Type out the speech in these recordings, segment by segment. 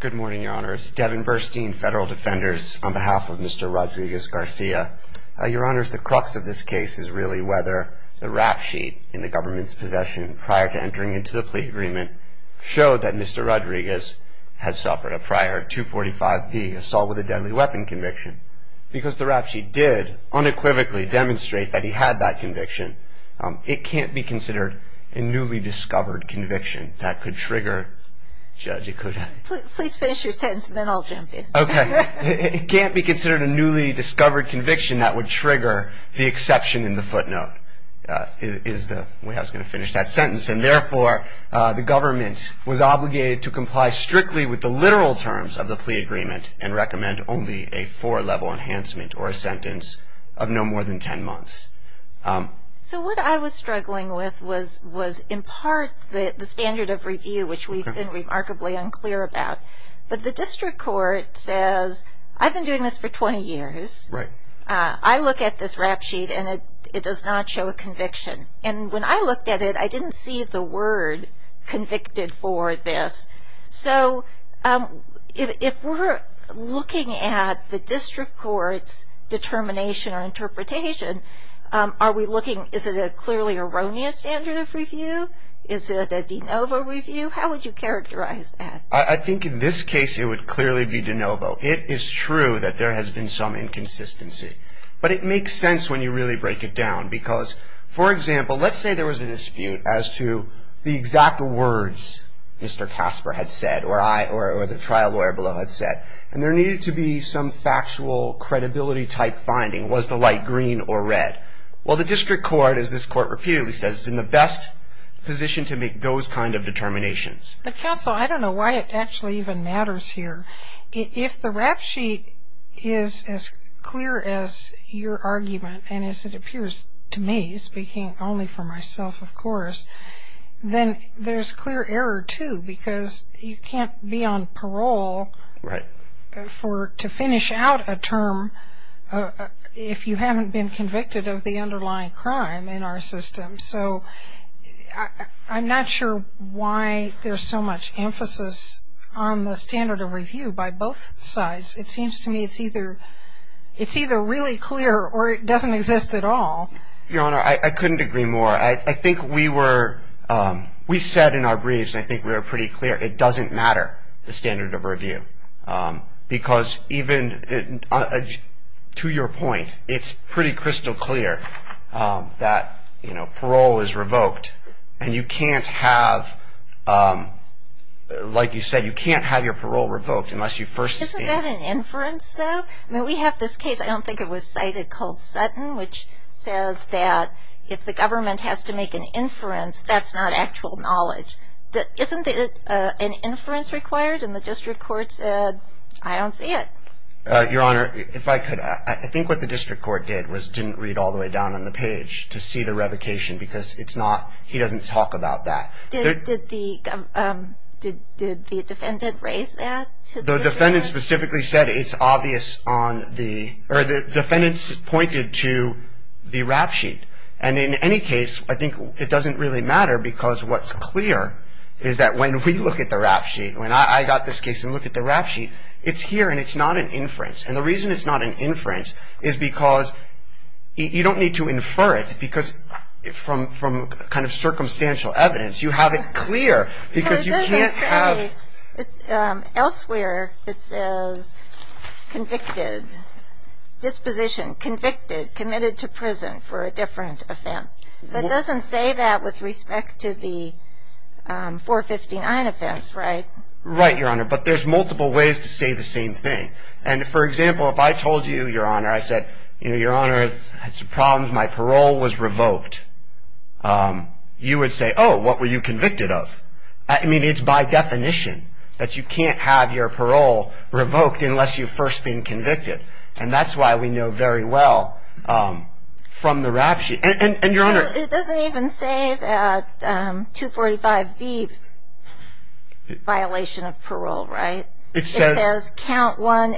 Good morning, Your Honors. Devin Burstein, Federal Defenders, on behalf of Mr. Rodriguez-Garcia. Your Honors, the crux of this case is really whether the rap sheet in the government's possession prior to entering into the plea agreement showed that Mr. Rodriguez had suffered a prior 245P assault with a deadly weapon conviction. Because the rap sheet did unequivocally demonstrate that he had that conviction, it can't be considered a newly discovered conviction that could trigger the exception in the footnote. Therefore, the government was obligated to comply strictly with the literal terms of the plea agreement and recommend only a four-level enhancement or a sentence of no more than 10 months. So what I was struggling with was in part the standard of review, which we've been remarkably unclear about. But the district court says, I've been doing this for 20 years. I look at this rap sheet and it does not show a conviction. And when I looked at it, I didn't see the word convicted for this. So if we're looking at the district court's determination or interpretation, are we looking, is it a clearly erroneous standard of review? Is it a de novo review? How would you characterize that? I think in this case it would clearly be de novo. It is true that there has been some inconsistency. But it makes sense when you really break it down. Because, for example, let's say there was a dispute as to the exact words Mr. Casper had said or the trial lawyer below had said. And there needed to be some factual credibility-type finding. Was the light green or red? Well, the district court, as this court repeatedly says, is in the best position to make those kind of determinations. But counsel, I don't know why it actually even matters here. If the rap sheet is as clear as your argument and as it appears to me, speaking only for myself, of course, then there's clear error, too, because you can't be on parole to finish out a term if you haven't been convicted of the underlying crime in our system. So I'm not sure why there's so much emphasis on the standard of review by both sides. It seems to me it's either really clear or it doesn't exist at all. Your Honor, I couldn't agree more. I think we said in our briefs, and I think we were pretty clear, it doesn't matter, the standard of review. Because even to your point, it's pretty crystal clear that, you know, parole is revoked. And you can't have, like you said, you can't have your parole revoked unless you first stand. Isn't that an inference, though? I mean, we have this case, I don't think it was cited, called Sutton, which says that if the government has to make an inference, that's not actual knowledge. Isn't it an inference required? And the district court said, I don't see it. Your Honor, if I could, I think what the district court did was didn't read all the way down on the page to see the revocation because it's not, he doesn't talk about that. Did the defendant raise that? The defendant specifically said it's obvious on the, or the defendant pointed to the rap sheet. And in any case, I think it doesn't really matter because what's clear is that when we look at the rap sheet, when I got this case and look at the rap sheet, it's here and it's not an inference. And the reason it's not an inference is because you don't need to infer it because from kind of circumstantial evidence, you have it clear because you can't have. Elsewhere it says convicted, disposition, convicted, committed to prison for a different offense. But it doesn't say that with respect to the 459 offense, right? Right, Your Honor. But there's multiple ways to say the same thing. And for example, if I told you, Your Honor, I said, you know, Your Honor, it's a problem. My parole was revoked. You would say, oh, what were you convicted of? I mean, it's by definition that you can't have your parole revoked unless you've first been convicted. And that's why we know very well from the rap sheet. And, Your Honor. It doesn't even say that 245B violation of parole, right? It says count one,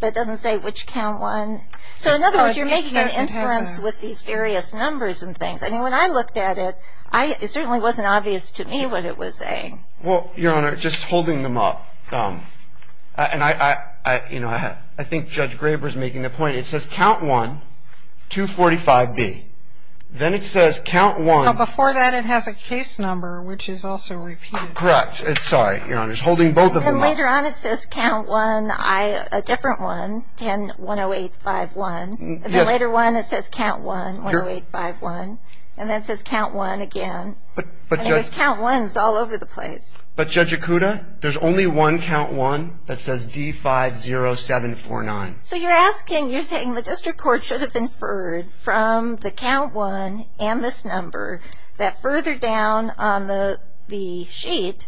but it doesn't say which count one. So in other words, you're making an inference with these various numbers and things. And when I looked at it, it certainly wasn't obvious to me what it was saying. Well, Your Honor, just holding them up. And I think Judge Graber's making the point. It says count one, 245B. Then it says count one. Before that it has a case number, which is also repeated. Correct. Sorry, Your Honor. Just holding both of them up. And later on it says count one, a different one, 1010851. And then later on it says count one, 1010851. And then it says count one again. And it was count ones all over the place. But Judge Ikuda, there's only one count one that says D50749. So you're asking, you're saying the district court should have inferred from the count one and this number that further down on the sheet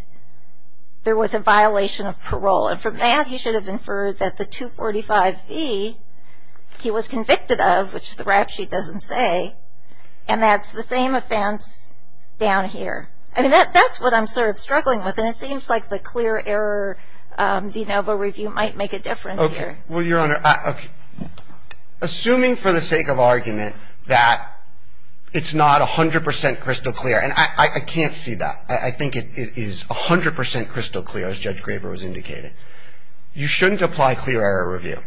there was a violation of parole. And from that he should have inferred that the 245B he was convicted of, which the rap sheet doesn't say, and that's the same offense down here. I mean, that's what I'm sort of struggling with. And it seems like the clear error de novo review might make a difference here. Well, Your Honor, assuming for the sake of argument that it's not 100 percent crystal clear, and I can't see that. I think it is 100 percent crystal clear, as Judge Graber was indicating. You shouldn't apply clear error review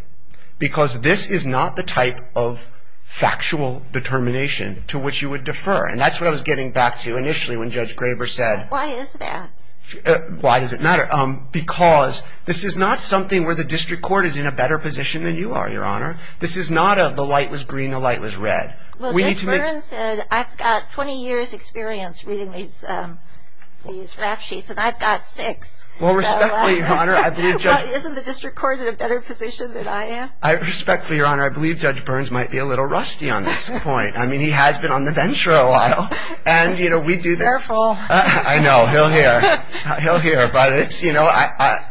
because this is not the type of factual determination to which you would defer. And that's what I was getting back to initially when Judge Graber said. Why is that? Why does it matter? Because this is not something where the district court is in a better position than you are, Your Honor. This is not a the light was green, the light was red. Well, Judge Burns said I've got 20 years' experience reading these rap sheets, and I've got six. Well, respectfully, Your Honor, I believe Judge. Well, isn't the district court in a better position than I am? Respectfully, Your Honor, I believe Judge Burns might be a little rusty on this point. I mean, he has been on the venture a while. And, you know, we do. Careful. I know. He'll hear. He'll hear. But it's, you know,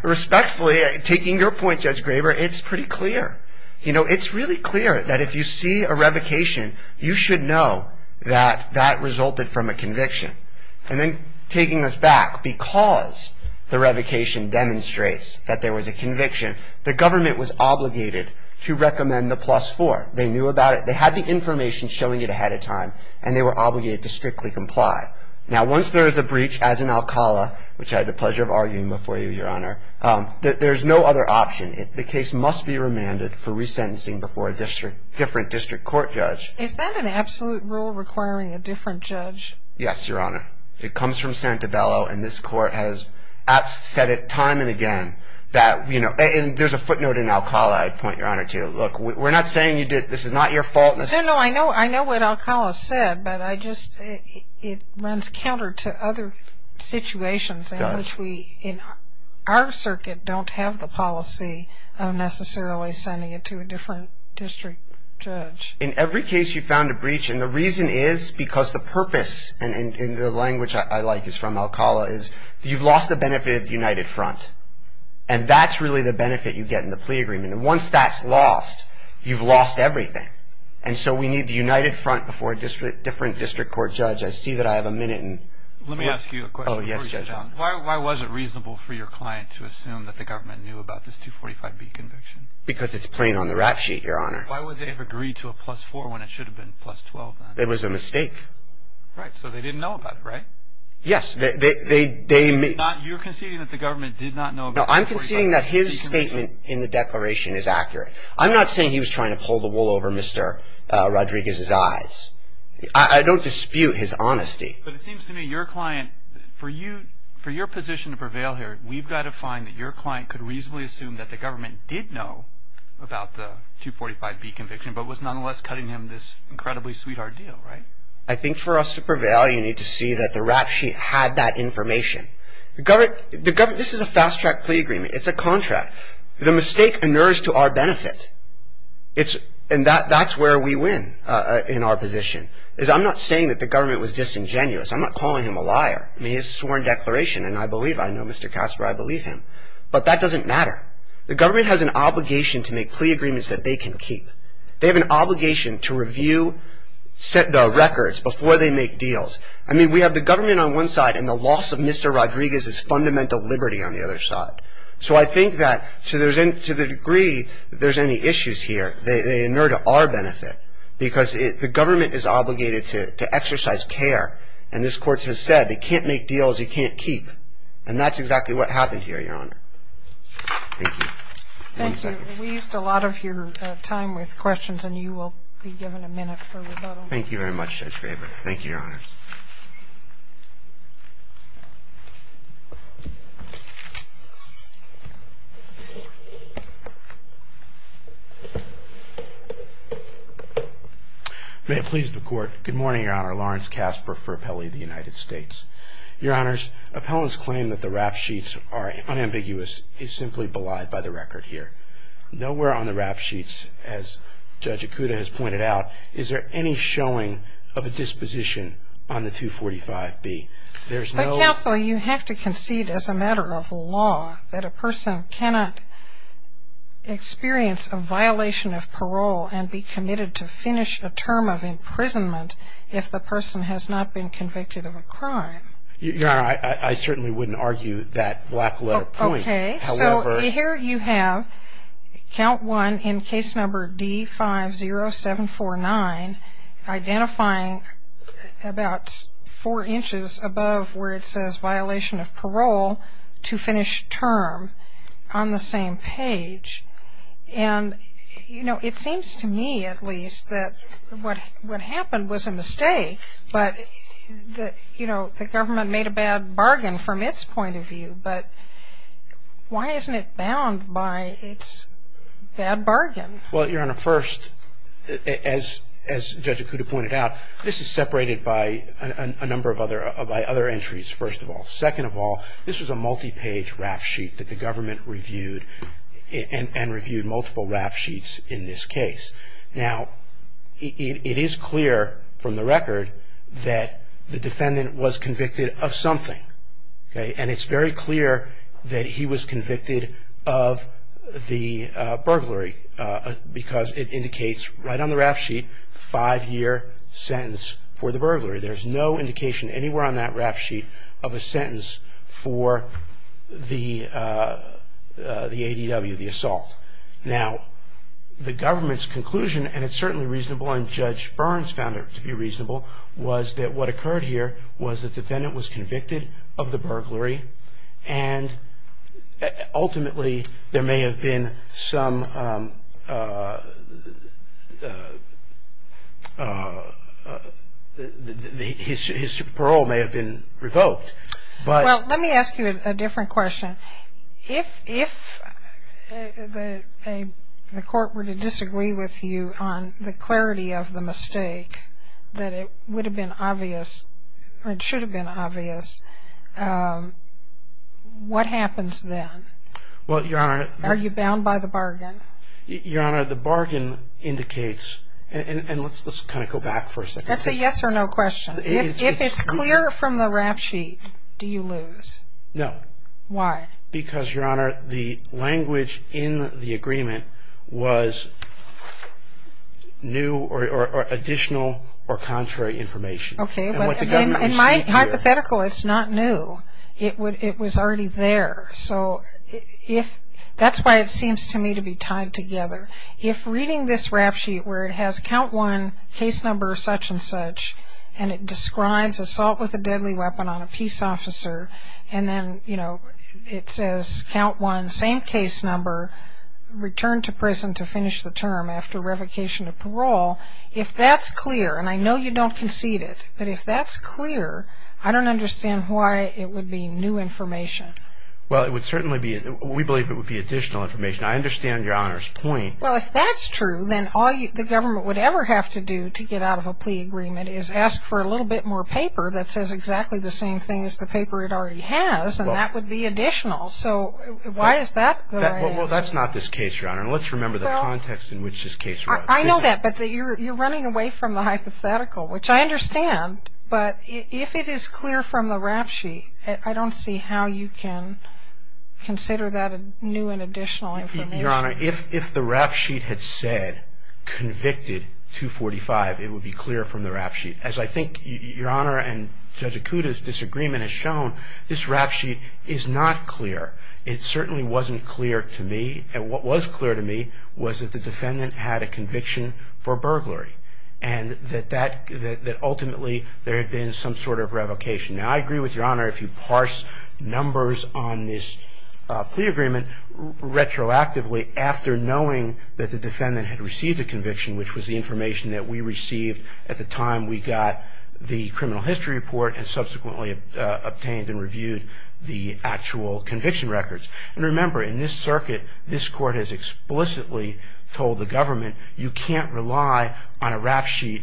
respectfully, taking your point, Judge Graber, it's pretty clear. You know, it's really clear that if you see a revocation, you should know that that resulted from a conviction. And then taking us back, because the revocation demonstrates that there was a conviction, the government was obligated to recommend the plus four. They knew about it. They had the information showing it ahead of time, and they were obligated to strictly comply. Now, once there is a breach, as in Alcala, which I had the pleasure of arguing before you, Your Honor, there's no other option. The case must be remanded for resentencing before a different district court judge. Is that an absolute rule requiring a different judge? Yes, Your Honor. It comes from Santabello, and this court has said it time and again that, you know, and there's a footnote in Alcala I'd point Your Honor to. Look, we're not saying this is not your fault. No, no, I know what Alcala said, but I just, it runs counter to other situations in which we, in our circuit, don't have the policy of necessarily sending it to a different district judge. In every case you found a breach, and the reason is because the purpose, and the language I like is from Alcala, is you've lost the benefit of the united front, and that's really the benefit you get in the plea agreement. And once that's lost, you've lost everything. And so we need the united front before a different district court judge. I see that I have a minute. Let me ask you a question. Oh, yes, Judge. Why was it reasonable for your client to assume that the government knew about this 245B conviction? Because it's plain on the rap sheet, Your Honor. Why would they have agreed to a plus-4 when it should have been plus-12 then? It was a mistake. Right. So they didn't know about it, right? Yes. They may not. You're conceding that the government did not know about 245B. No, I'm conceding that his statement in the declaration is accurate. I'm not saying he was trying to pull the wool over Mr. Rodriguez's eyes. I don't dispute his honesty. But it seems to me your client, for your position to prevail here, we've got to find that your client could reasonably assume that the government did know about the 245B conviction but was nonetheless cutting him this incredibly sweet ordeal, right? I think for us to prevail, you need to see that the rap sheet had that information. This is a fast-track plea agreement. It's a contract. The mistake inures to our benefit. And that's where we win in our position. I'm not saying that the government was disingenuous. I'm not calling him a liar. I mean, he has a sworn declaration, and I believe, I know Mr. Casper, I believe him. But that doesn't matter. The government has an obligation to make plea agreements that they can keep. They have an obligation to review the records before they make deals. I mean, we have the government on one side and the loss of Mr. Rodriguez's fundamental liberty on the other side. So I think that to the degree that there's any issues here, they inure to our benefit because the government is obligated to exercise care. And this Court has said they can't make deals you can't keep. And that's exactly what happened here, Your Honor. Thank you. One second. Thank you. We used a lot of your time with questions, and you will be given a minute for rebuttal. Thank you very much, Judge Graber. Thank you, Your Honor. May it please the Court. Good morning, Your Honor. Lawrence Casper for Appellee of the United States. Your Honors, appellants claim that the rap sheets are unambiguous. It's simply belied by the record here. Nowhere on the rap sheets, as Judge Ikuda has pointed out, is there any showing of a disposition on the 245B. There's no ---- But, Counsel, you have to concede as a matter of law that a person cannot experience a violation of parole and be committed to finish a term of imprisonment if the person has not been convicted of a crime. Your Honor, I certainly wouldn't argue that black letter point. Okay. So here you have count one in case number D-50749, identifying about four inches above where it says violation of parole to finish term on the same page. And, you know, it seems to me at least that what happened was a mistake, but, you know, the government made a bad bargain from its point of view. But why isn't it bound by its bad bargain? Well, Your Honor, first, as Judge Ikuda pointed out, this is separated by a number of other entries, first of all. Second of all, this was a multi-page rap sheet that the government reviewed and reviewed multiple rap sheets in this case. Now, it is clear from the record that the defendant was convicted of something. And it's very clear that he was convicted of the burglary because it indicates right on the rap sheet five-year sentence for the burglary. There's no indication anywhere on that rap sheet of a sentence for the ADW, the assault. Now, the government's conclusion, and it's certainly reasonable and Judge Burns found it to be reasonable, was that what occurred here was the defendant was convicted of the burglary and ultimately there may have been some, his parole may have been revoked. Well, let me ask you a different question. If the court were to disagree with you on the clarity of the mistake, that it would have been obvious, or it should have been obvious, what happens then? Well, Your Honor. Are you bound by the bargain? Your Honor, the bargain indicates, and let's kind of go back for a second. That's a yes or no question. If it's clear from the rap sheet, do you lose? No. Why? Because, Your Honor, the language in the agreement was new or additional or contrary information. Okay. In my hypothetical, it's not new. It was already there. So that's why it seems to me to be tied together. If reading this rap sheet where it has count one, case number such and such, and it describes assault with a deadly weapon on a peace officer, and then, you know, it says count one, same case number, return to prison to finish the term after revocation of parole, if that's clear, and I know you don't concede it, but if that's clear, I don't understand why it would be new information. Well, it would certainly be, we believe it would be additional information. I understand Your Honor's point. Well, if that's true, then all the government would ever have to do to get out of a plea agreement is ask for a little bit more paper that says exactly the same thing as the paper it already has, and that would be additional. So why is that what I ask? Well, that's not this case, Your Honor. And let's remember the context in which this case was. I know that, but you're running away from the hypothetical, which I understand. But if it is clear from the rap sheet, I don't see how you can consider that new and additional information. Your Honor, if the rap sheet had said convicted 245, it would be clear from the rap sheet. As I think Your Honor and Judge Acuda's disagreement has shown, this rap sheet is not clear. It certainly wasn't clear to me, and what was clear to me was that the defendant had a conviction for burglary and that ultimately there had been some sort of revocation. Now, I agree with Your Honor if you parse numbers on this plea agreement retroactively after knowing that the defendant had received a conviction, which was the information that we received at the time we got the criminal history report and subsequently obtained and reviewed the actual conviction records. And remember, in this circuit, this court has explicitly told the government you can't rely on a rap sheet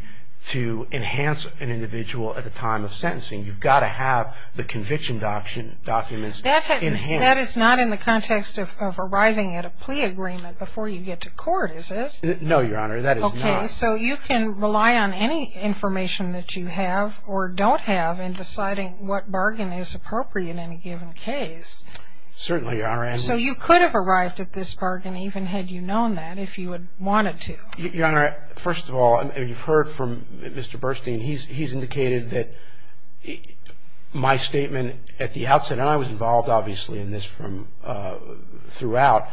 to enhance an individual at the time of sentencing. You've got to have the conviction documents enhanced. That is not in the context of arriving at a plea agreement before you get to court, is it? No, Your Honor, that is not. Okay, so you can rely on any information that you have or don't have in deciding what bargain is appropriate in a given case. Certainly, Your Honor. So you could have arrived at this bargain even had you known that if you had wanted to. Your Honor, first of all, you've heard from Mr. Burstein. He's indicated that my statement at the outset, and I was involved, obviously, in this throughout,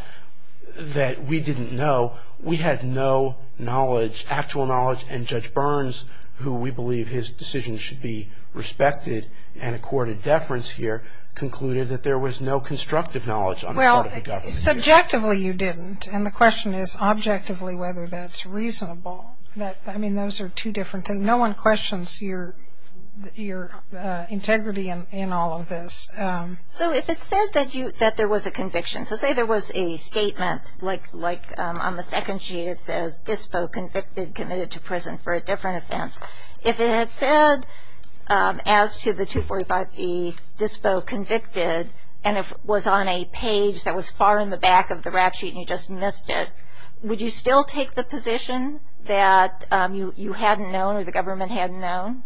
that we didn't know. We had no knowledge, actual knowledge, and Judge Burns, who we believe his decision should be respected and accorded deference here, concluded that there was no constructive knowledge on the part of the government. Well, subjectively you didn't, and the question is objectively whether that's reasonable. I mean, those are two different things. No one questions your integrity in all of this. So if it said that there was a conviction, so say there was a statement, like on the second sheet it says, Dispo convicted, committed to prison for a different offense. If it had said, as to the 245e, Dispo convicted, and it was on a page that was far in the back of the rap sheet and you just missed it, would you still take the position that you hadn't known or the government hadn't known?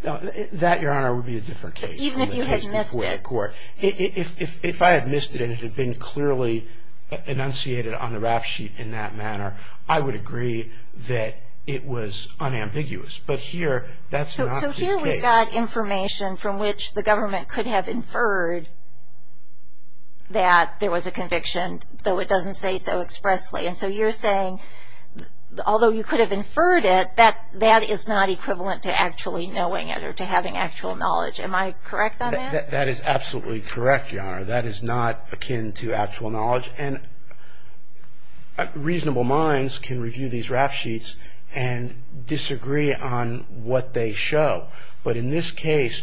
That, Your Honor, would be a different case. Even if you had missed it. If I had missed it and it had been clearly enunciated on the rap sheet in that manner, I would agree that it was unambiguous. But here, that's not the case. So here we've got information from which the government could have inferred that there was a conviction, though it doesn't say so expressly. And so you're saying, although you could have inferred it, that that is not equivalent to actually knowing it or to having actual knowledge. Am I correct on that? That is absolutely correct, Your Honor. That is not akin to actual knowledge. And reasonable minds can review these rap sheets and disagree on what they show. But in this case,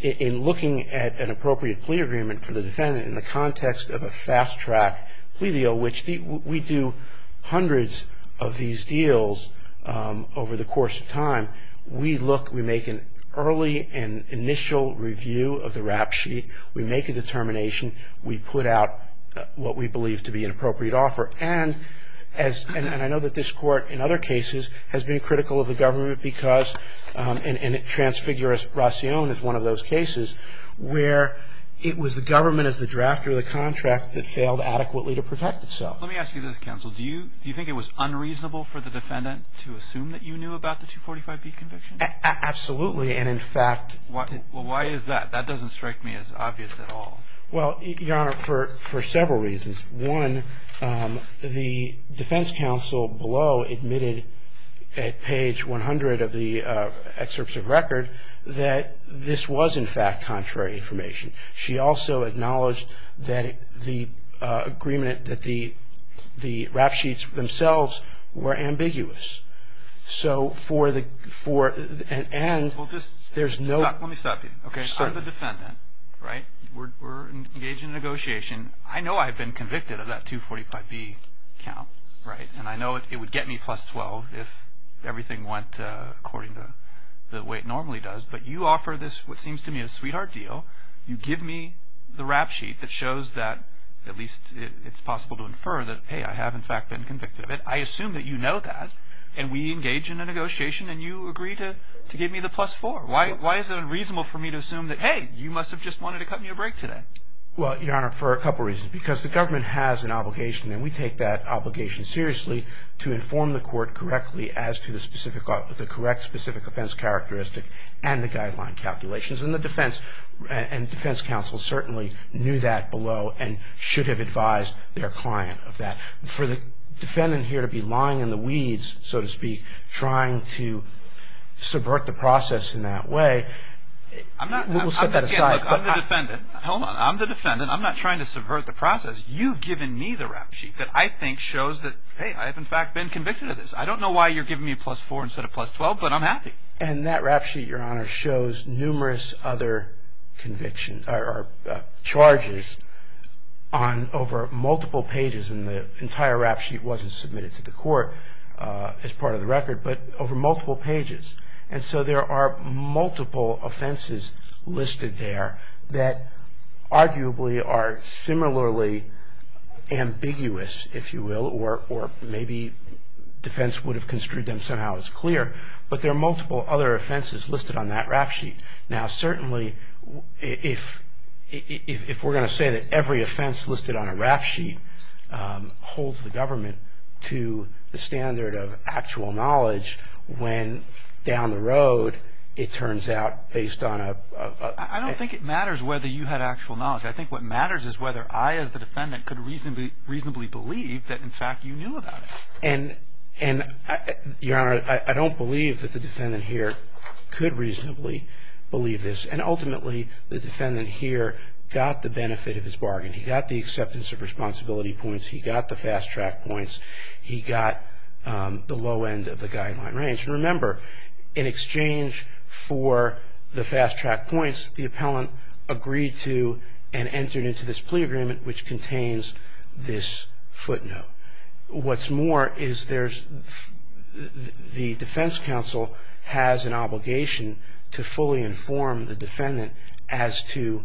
in looking at an appropriate plea agreement for the defendant in the context of a fast-track plea deal, which we do hundreds of these deals over the course of time, we look, we make an early and initial review of the rap sheet. We make a determination. We put out what we believe to be an appropriate offer. And I know that this Court in other cases has been critical of the government because and transfiguration is one of those cases where it was the government as the draft or the contract that failed adequately to protect itself. Let me ask you this, counsel. Do you think it was unreasonable for the defendant to assume that you knew about the 245B conviction? Absolutely. And, in fact, Well, why is that? That doesn't strike me as obvious at all. Well, Your Honor, for several reasons. One, the defense counsel below admitted at page 100 of the excerpts of record that this was, in fact, contrary information. She also acknowledged that the agreement, that the rap sheets themselves were ambiguous. So for the, and there's no Let me stop you. Okay. I'm the defendant, right? We're engaged in a negotiation. I know I've been convicted of that 245B count, right? And I know it would get me plus 12 if everything went according to the way it normally does. But you offer this, what seems to me, a sweetheart deal. You give me the rap sheet that shows that at least it's possible to infer that, hey, I have, in fact, been convicted of it. I assume that you know that. And we engage in a negotiation. And you agree to give me the plus 4. Why is it unreasonable for me to assume that, hey, you must have just wanted to cut me a break today? Well, Your Honor, for a couple reasons. Because the government has an obligation, and we take that obligation seriously, to inform the court correctly as to the specific, the correct specific offense characteristic and the guideline calculations. And the defense, and defense counsel certainly knew that below and should have advised their client of that. For the defendant here to be lying in the weeds, so to speak, trying to subvert the process in that way. I'm not. We'll set that aside. I'm the defendant. Hold on. I'm the defendant. I'm not trying to subvert the process. You've given me the rap sheet that I think shows that, hey, I have, in fact, been convicted of this. I don't know why you're giving me a plus 4 instead of plus 12, but I'm happy. And that rap sheet, Your Honor, shows numerous other convictions or charges on, over multiple pages. And the entire rap sheet wasn't submitted to the court as part of the record, but over multiple pages. And so there are multiple offenses listed there that arguably are similarly ambiguous, if you will, or maybe defense would have construed them somehow as clear. But there are multiple other offenses listed on that rap sheet. Now, certainly, if we're going to say that every offense listed on a rap sheet holds the government to the standard of actual knowledge when, down the road, it turns out based on a... I don't think it matters whether you had actual knowledge. I think what matters is whether I, as the defendant, could reasonably believe that, in fact, you knew about it. And, Your Honor, I don't believe that the defendant here could reasonably believe this. And, ultimately, the defendant here got the benefit of his bargain. He got the acceptance of responsibility points. He got the fast-track points. He got the low end of the guideline range. And, remember, in exchange for the fast-track points, the appellant agreed to and entered into this plea agreement, which contains this footnote. What's more is there's... the defense counsel has an obligation to fully inform the defendant as to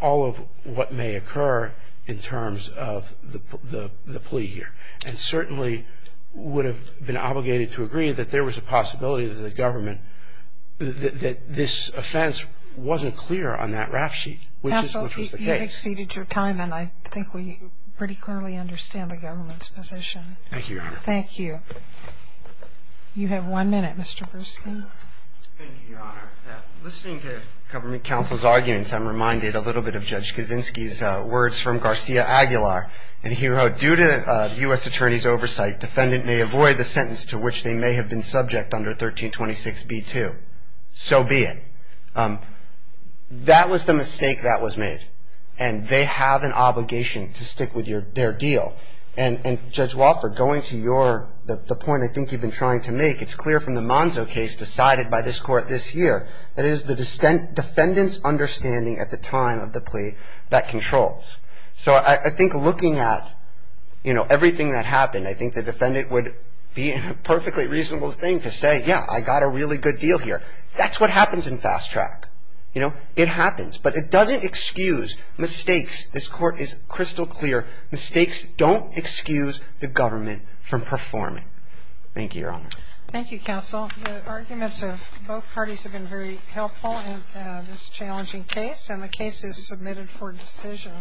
all of what may occur in terms of the plea here. And, certainly, would have been obligated to agree that there was a possibility that the government... that this offense wasn't clear on that rap sheet, which was the case. Counsel, you've exceeded your time, and I think we pretty clearly understand the government's position. Thank you, Your Honor. Thank you. You have one minute, Mr. Bruschi. Thank you, Your Honor. Listening to government counsel's arguments, I'm reminded a little bit of Judge Kaczynski's words from Garcia Aguilar. And he wrote, Due to U.S. Attorney's oversight, defendant may avoid the sentence to which they may have been subject under 1326b-2. So be it. That was the mistake that was made, and they have an obligation to stick with their deal. And, Judge Wofford, going to your... the point I think you've been trying to make, it's clear from the Monzo case decided by this Court this year, that it is the defendant's understanding at the time of the plea that controls. So I think looking at, you know, everything that happened, I think the defendant would be in a perfectly reasonable thing to say, Yeah, I got a really good deal here. That's what happens in fast track. You know, it happens. But it doesn't excuse mistakes. This Court is crystal clear. Mistakes don't excuse the government from performing. Thank you, Your Honor. Thank you, Counsel. The arguments of both parties have been very helpful in this challenging case, and the case is submitted for decision.